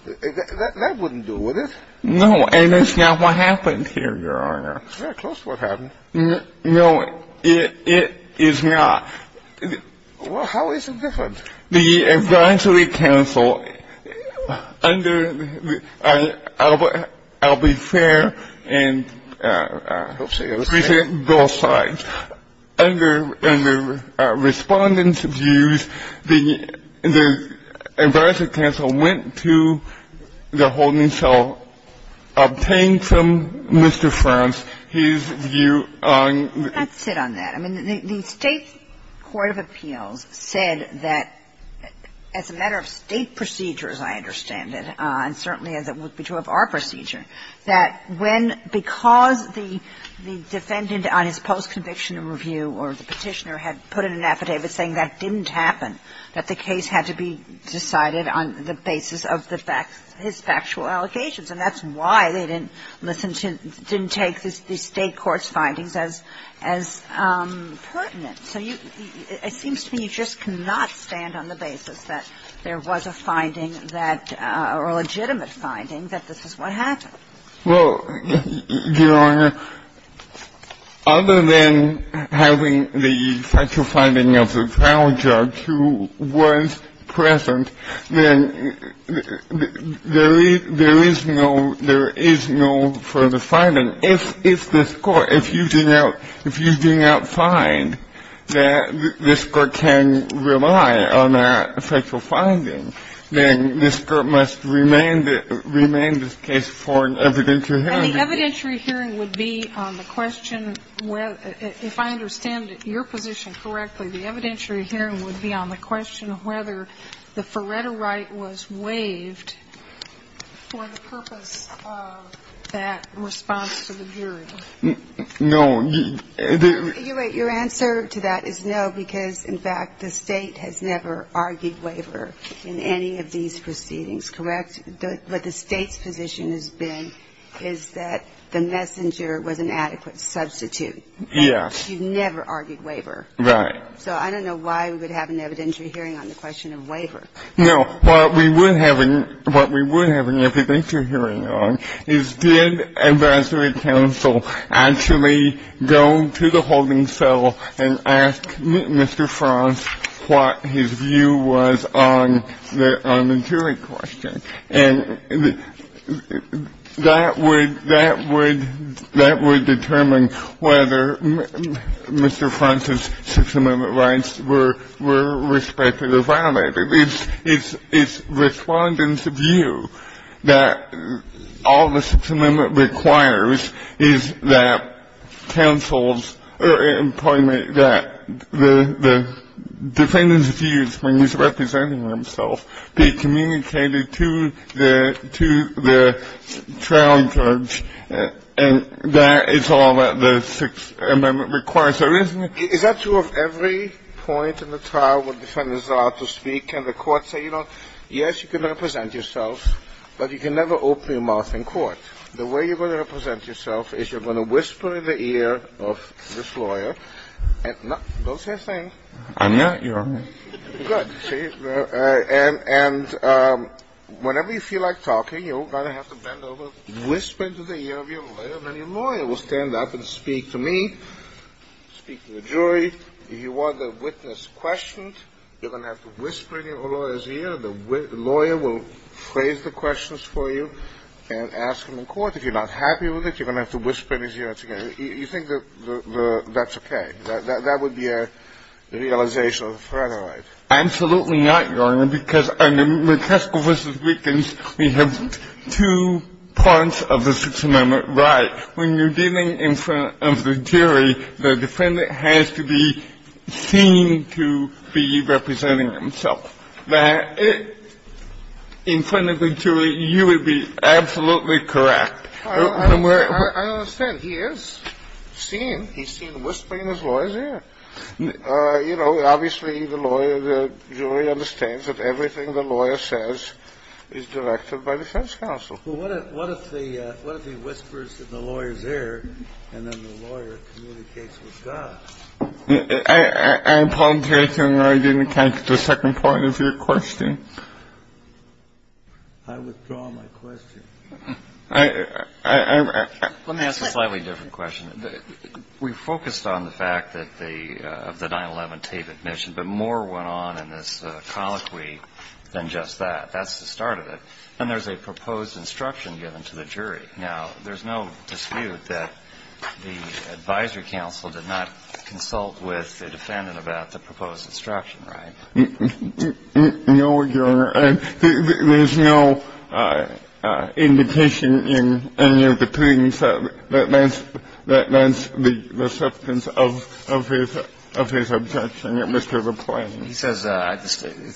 That wouldn't do, would it? No, and that's not what happened here, Your Honor. It's very close to what happened. No, it is not. Well, how is it different? The advisory counsel under the ‑‑ I'll be fair and present both sides. Under the Respondent's views, the advisory counsel went to the holding cell, obtained from Mr. Frantz his view on the ‑‑ Let's sit on that. I mean, the State court of appeals said that, as a matter of State procedures, I understand it, and certainly as it would be true of our procedure, that when ‑‑ that the case had to be decided on the basis of his factual review or the petitioner had put in an affidavit saying that didn't happen, that the case had to be decided on the basis of his factual allocations. And that's why they didn't listen to ‑‑ didn't take the State court's findings as pertinent. So it seems to me you just cannot stand on the basis that there was a finding that ‑‑ or a legitimate finding that this is what happened. Well, Your Honor, other than having the factual finding of the trial judge who was present, then there is no further finding. And if this court, if you do not find that this court can rely on that factual finding, then this court must remain this case for an evidentiary hearing. And the evidentiary hearing would be on the question, if I understand your position correctly, the evidentiary hearing would be on the question of whether the Faretto right was waived for the purpose of that response to the jury. No. You're right. Your answer to that is no, because, in fact, the State has never argued waiver in any of these proceedings. Correct? But the State's position has been is that the messenger was an adequate substitute. Yes. You've never argued waiver. Right. So I don't know why we would have an evidentiary hearing on the question of waiver. No. What we would have an evidentiary hearing on is did advisory council actually go to the holding cell and ask Mr. Franz what his view was on the jury question. And that would determine whether Mr. Franz's Sixth Amendment rights were respected or violated. It's Respondent's view that all the Sixth Amendment requires is that counsels or employment, that the defendant's views when he's representing himself be communicated to the trial judge, and that is all that the Sixth Amendment requires. Is that true of every point in the trial where defendants are allowed to speak and the court say, you know, yes, you can represent yourself, but you can never open your mouth in court? The way you're going to represent yourself is you're going to whisper in the ear of this lawyer, and don't say a thing. I'm not your lawyer. Good. And whenever you feel like talking, you're going to have to bend over, whisper into the ear of your lawyer, and then your lawyer will stand up and speak to me, speak to the jury. If you want the witness questioned, you're going to have to whisper in your lawyer's ear. The lawyer will phrase the questions for you and ask them in court. If you're not happy with it, you're going to have to whisper in his ear again. You think that that's okay, that that would be a realization of the federal right? Absolutely not, Your Honor, because under McCaskill v. Wiggins, we have two parts of the Sixth Amendment right. When you're dealing in front of the jury, the defendant has to be seen to be representing himself. In front of the jury, you would be absolutely correct. I understand. He is seen. He's seen whispering in his lawyer's ear. You know, obviously the lawyer, the jury understands that everything the lawyer says is directed by defense counsel. Well, what if he whispers in the lawyer's ear, and then the lawyer communicates with God? I apologize, Your Honor, I didn't catch the second part of your question. I withdraw my question. Let me ask a slightly different question. We focused on the fact of the 9-11 tape admission, but more went on in this colloquy than just that. That's the start of it. And there's a proposed instruction given to the jury. Now, there's no dispute that the advisory counsel did not consult with the defendant about the proposed instruction, right? No, Your Honor. There's no indication in any of the proceedings that that's the substance of his objection, Mr. LaPlante. He says,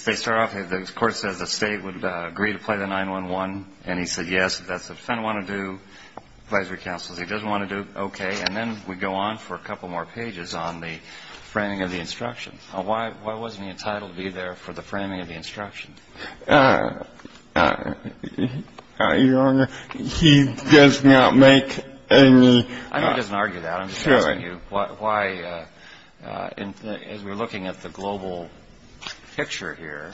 they start off, the court says the State would agree to play the 9-11, and he said yes, if that's what the defendant wanted to do, advisory counsel, if he doesn't want to do it, okay. And then we go on for a couple more pages on the framing of the instruction. Now, why wasn't he entitled to be there for the framing of the instruction? Your Honor, he does not make any. I'm not going to argue that. I'm just asking you why, as we're looking at the global picture here,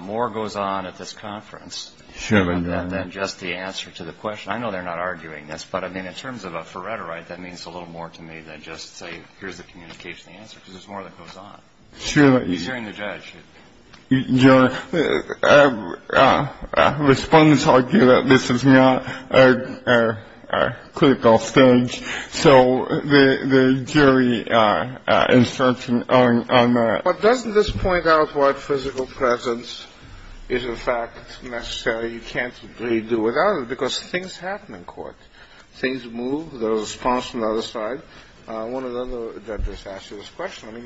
more goes on at this conference than just the answer to the question. I know they're not arguing this, but, I mean, in terms of a forerunner, right, that means a little more to me than just say, here's the communication, the answer, because there's more that goes on. He's hearing the judge. Your Honor, Respondents argue that this is not a critical stage. So the jury instruction on that. But doesn't this point out why physical presence is, in fact, necessary? You can't really do without it, because things happen in court. Things move. There's a response from the other side. One of the other judges asked you this question. I mean,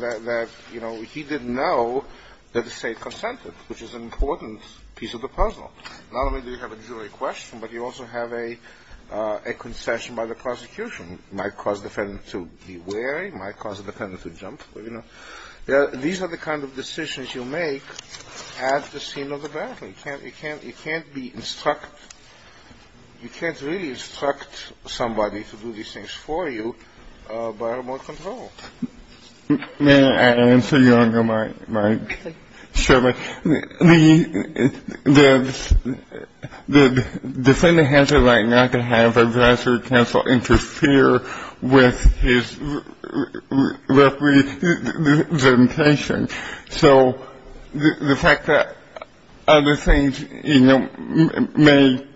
that, you know, he didn't know that the State consented, which is an important piece of the puzzle. Not only do you have a jury question, but you also have a concession by the prosecution. It might cause the defendant to be wary. It might cause the defendant to jump. These are the kind of decisions you make at the scene of the battle. You can't really instruct somebody to do these things for you by remote control. May I answer, Your Honor, my question? The defendant has a right not to have a judge or counsel interfere with his representation. So the fact that other things, you know, may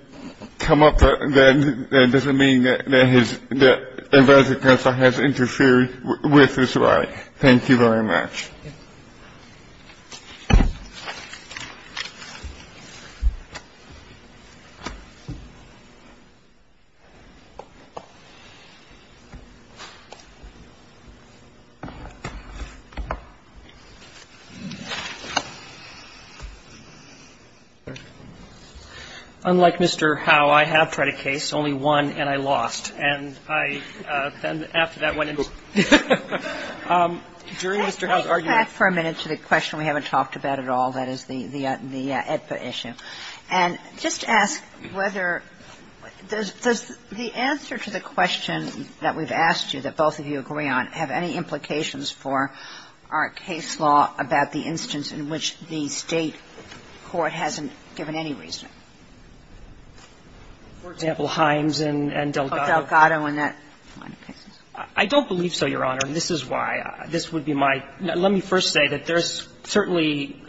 come up, that doesn't mean that a judge or counsel has interfered with his right. Thank you very much. Unlike Mr. Howe, I have tried a case, only one, and I lost. And I then, after that, went into ---- If you have any questions, feel free to ask. During Mr. Howe's argument ---- Can I step back for a minute to the question we haven't talked about at all, that is the EDPA issue. And just ask whether the answer to the question that we've asked you that both of you agree on have any implications for our case law about the instance in which the State court hasn't given any reasoning. For example, Himes and Delgado. Oh, Delgado and that line of cases. I don't believe so, Your Honor, and this is why. This would be my ---- let me first say that there's certainly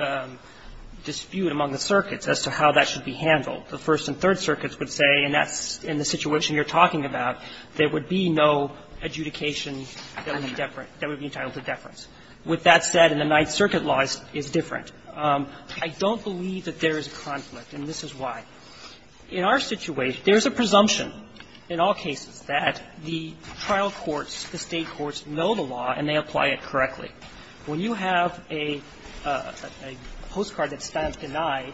dispute among the circuits as to how that should be handled. The First and Third Circuits would say, and that's in the situation you're talking about, there would be no adjudication that would be deferent, that would be entitled to deference. With that said, and the Ninth Circuit law is different. I don't believe that there is a conflict, and this is why. In our situation, there's a presumption in all cases that the trial courts, the State courts, know the law and they apply it correctly. When you have a postcard that stands denied,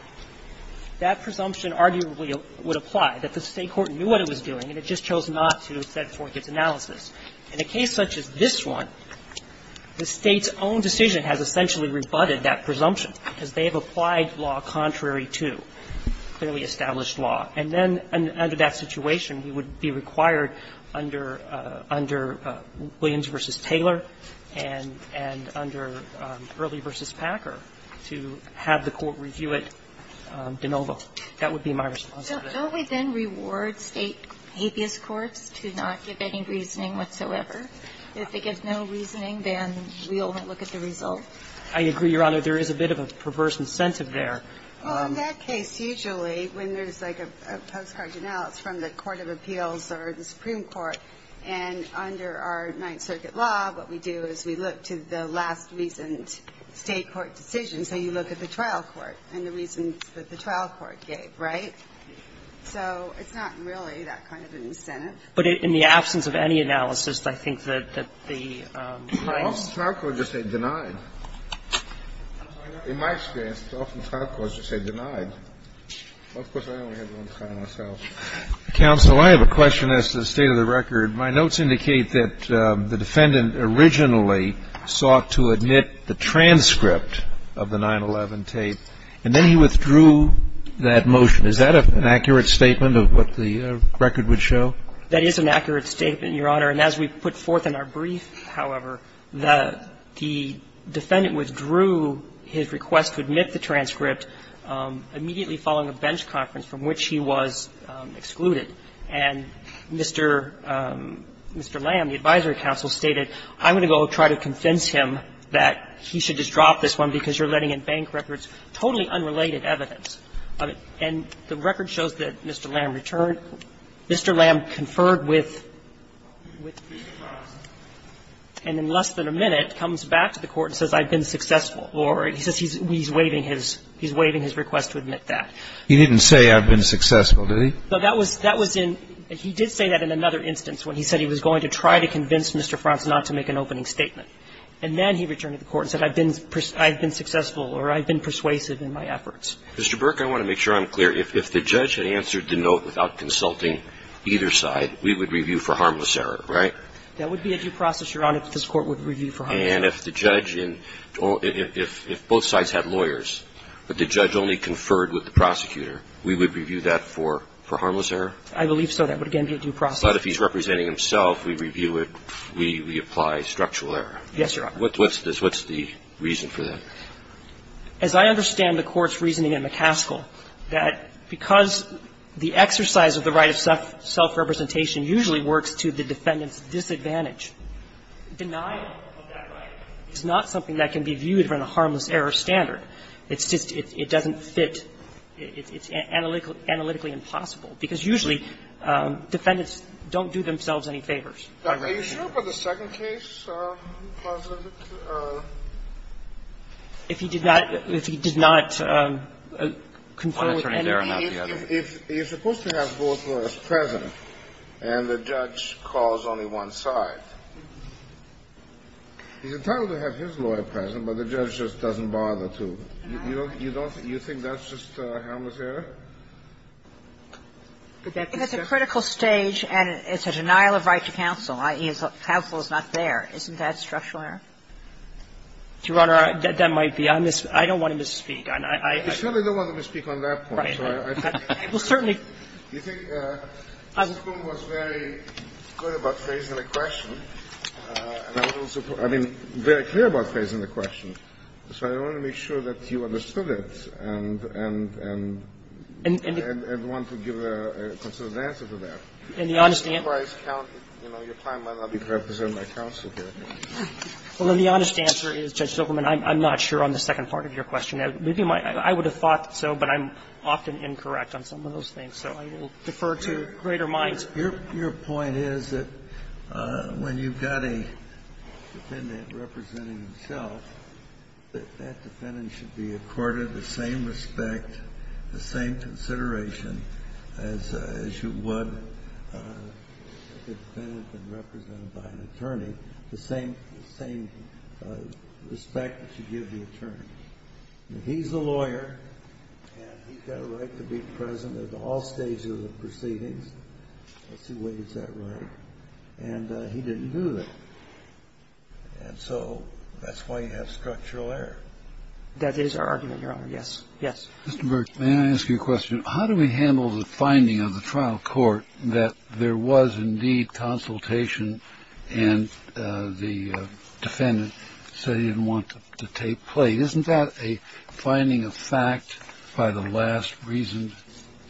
that presumption arguably would apply, that the State court knew what it was doing and it just chose not to set forth its analysis. In a case such as this one, the State's own decision has essentially rebutted that presumption, because they have applied law contrary to clearly established law. And then under that situation, it would be required under Williams v. Taylor and under Early v. Packer to have the court review it de novo. That would be my response to that. So don't we then reward State habeas courts to not give any reasoning whatsoever? If they give no reasoning, then we only look at the result? I agree, Your Honor. There is a bit of a perverse incentive there. Well, in that case, usually, when there's like a postcard analysis from the court of appeals or the Supreme Court, and under our Ninth Circuit law, what we do is we look to the last recent State court decision. So you look at the trial court and the reasons that the trial court gave, right? So it's not really that kind of an incentive. But in the absence of any analysis, I think that the crimes are denied. In my experience, it's often trial courts that say denied. Of course, I only have one trial myself. Counsel, I have a question as to the state of the record. My notes indicate that the defendant originally sought to admit the transcript of the 9-11 tape, and then he withdrew that motion. Is that an accurate statement of what the record would show? That is an accurate statement, Your Honor. And as we put forth in our brief, however, the defendant withdrew his request to admit the transcript immediately following a bench conference from which he was excluded. And Mr. Lam, the advisory counsel, stated, I'm going to go try to convince him that he should just drop this one because you're letting in bank records, totally unrelated evidence. And the record shows that Mr. Lam returned. And in less than a minute, comes back to the court and says, I've been successful. Or he says he's waiving his request to admit that. He didn't say, I've been successful, did he? Well, that was in he did say that in another instance when he said he was going to try to convince Mr. Frantz not to make an opening statement. And then he returned to the court and said, I've been successful or I've been persuasive in my efforts. Mr. Burke, I want to make sure I'm clear. If the judge had answered the note without consulting either side, we would review for harmless error, right? That would be a due process, Your Honor, if this Court would review for harmless error. And if the judge in or if both sides had lawyers, but the judge only conferred with the prosecutor, we would review that for harmless error? I believe so. That would, again, be a due process. But if he's representing himself, we review it, we apply structural error. Yes, Your Honor. What's this? What's the reason for that? As I understand the Court's reasoning in McCaskill, that because the exercise of the right of self-representation usually works to the defendant's disadvantage, denial of that right is not something that can be viewed from a harmless error standard. It's just it doesn't fit. It's analytically impossible, because usually defendants don't do themselves any favors. Are you sure about the second case? If he did not, if he did not confer with anybody. He's supposed to have both lawyers present, and the judge calls only one side. He's entitled to have his lawyer present, but the judge just doesn't bother to. You don't, you think that's just harmless error? If it's a critical stage and it's a denial of right to counsel, i.e., counsel is not there, isn't that structural error? Your Honor, that might be. I don't want him to speak. I certainly don't want him to speak on that point. I will certainly. You think Mr. Bloom was very clear about phrasing the question. I mean, very clear about phrasing the question. So I want to make sure that you understood it. And I want to give a consolidated answer to that. In the honest answer. Your time might not be to represent my counsel here. Well, the honest answer is, Judge Zuckerman, I'm not sure on the second part of your question. I would have thought so, but I'm often incorrect on some of those things. So I will defer to greater minds. Your point is that when you've got a defendant representing himself, that that defendant should be accorded the same respect, the same consideration as you would if the defendant had been represented by an attorney, the same respect that you give the attorney. He's a lawyer and he's got a right to be present at all stages of the proceedings. Let's see, what is that right? And he didn't do that. And so that's why you have structural error. That is our argument, Your Honor. Yes. Yes. Mr. Burke, may I ask you a question? How do we handle the finding of the trial court that there was indeed consultation and the defendant said he didn't want the tape played? Isn't that a finding of fact by the last reasoned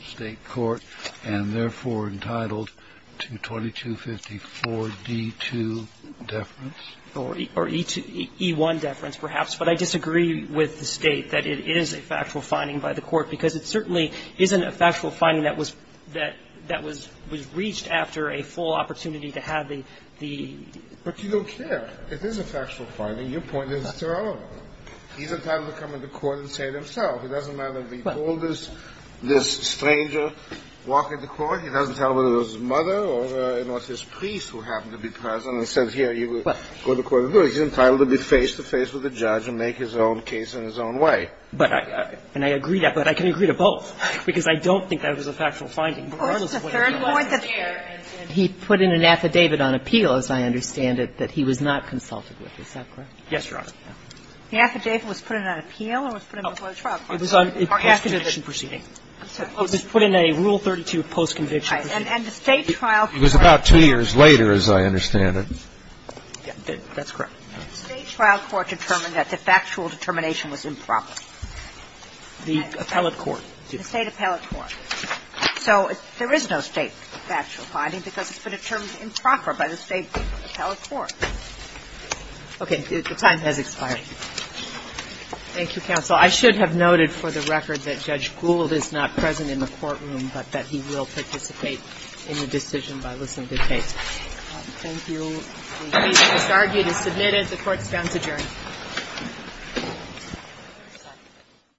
state court and therefore entitled to 2254 D2 deference? Or E1 deference, perhaps. But I disagree with the State that it is a factual finding by the court, because it certainly isn't a factual finding that was reached after a full opportunity to have the ---- But you don't care. It is a factual finding. Your point is irrelevant. He's entitled to come into court and say it himself. It doesn't matter if he told this stranger, walk into court, he doesn't tell whether it was his mother or it was his priest who happened to be present and said here you go to court. He's entitled to be face-to-face with the judge and make his own case in his own way. But I agree that. But I can agree to both, because I don't think that was a factual finding regardless of what he did. He put in an affidavit on appeal, as I understand it, that he was not consulted with. Is that correct? Yes, Your Honor. The affidavit was put in on appeal or was put in before the trial court? It was on a post-conviction proceeding. It was put in a Rule 32 post-conviction proceeding. All right. And the State trial court. It was about two years later, as I understand it. That's correct. The State trial court determined that the factual determination was improper. The appellate court. The State appellate court. So there is no State factual finding because it's been determined improper by the State appellate court. Okay. The time has expired. Thank you, counsel. I should have noted for the record that Judge Gould is not present in the courtroom but that he will participate in the decision by listening to the case. Thank you. The case is disargued and submitted. The Court is now adjourned.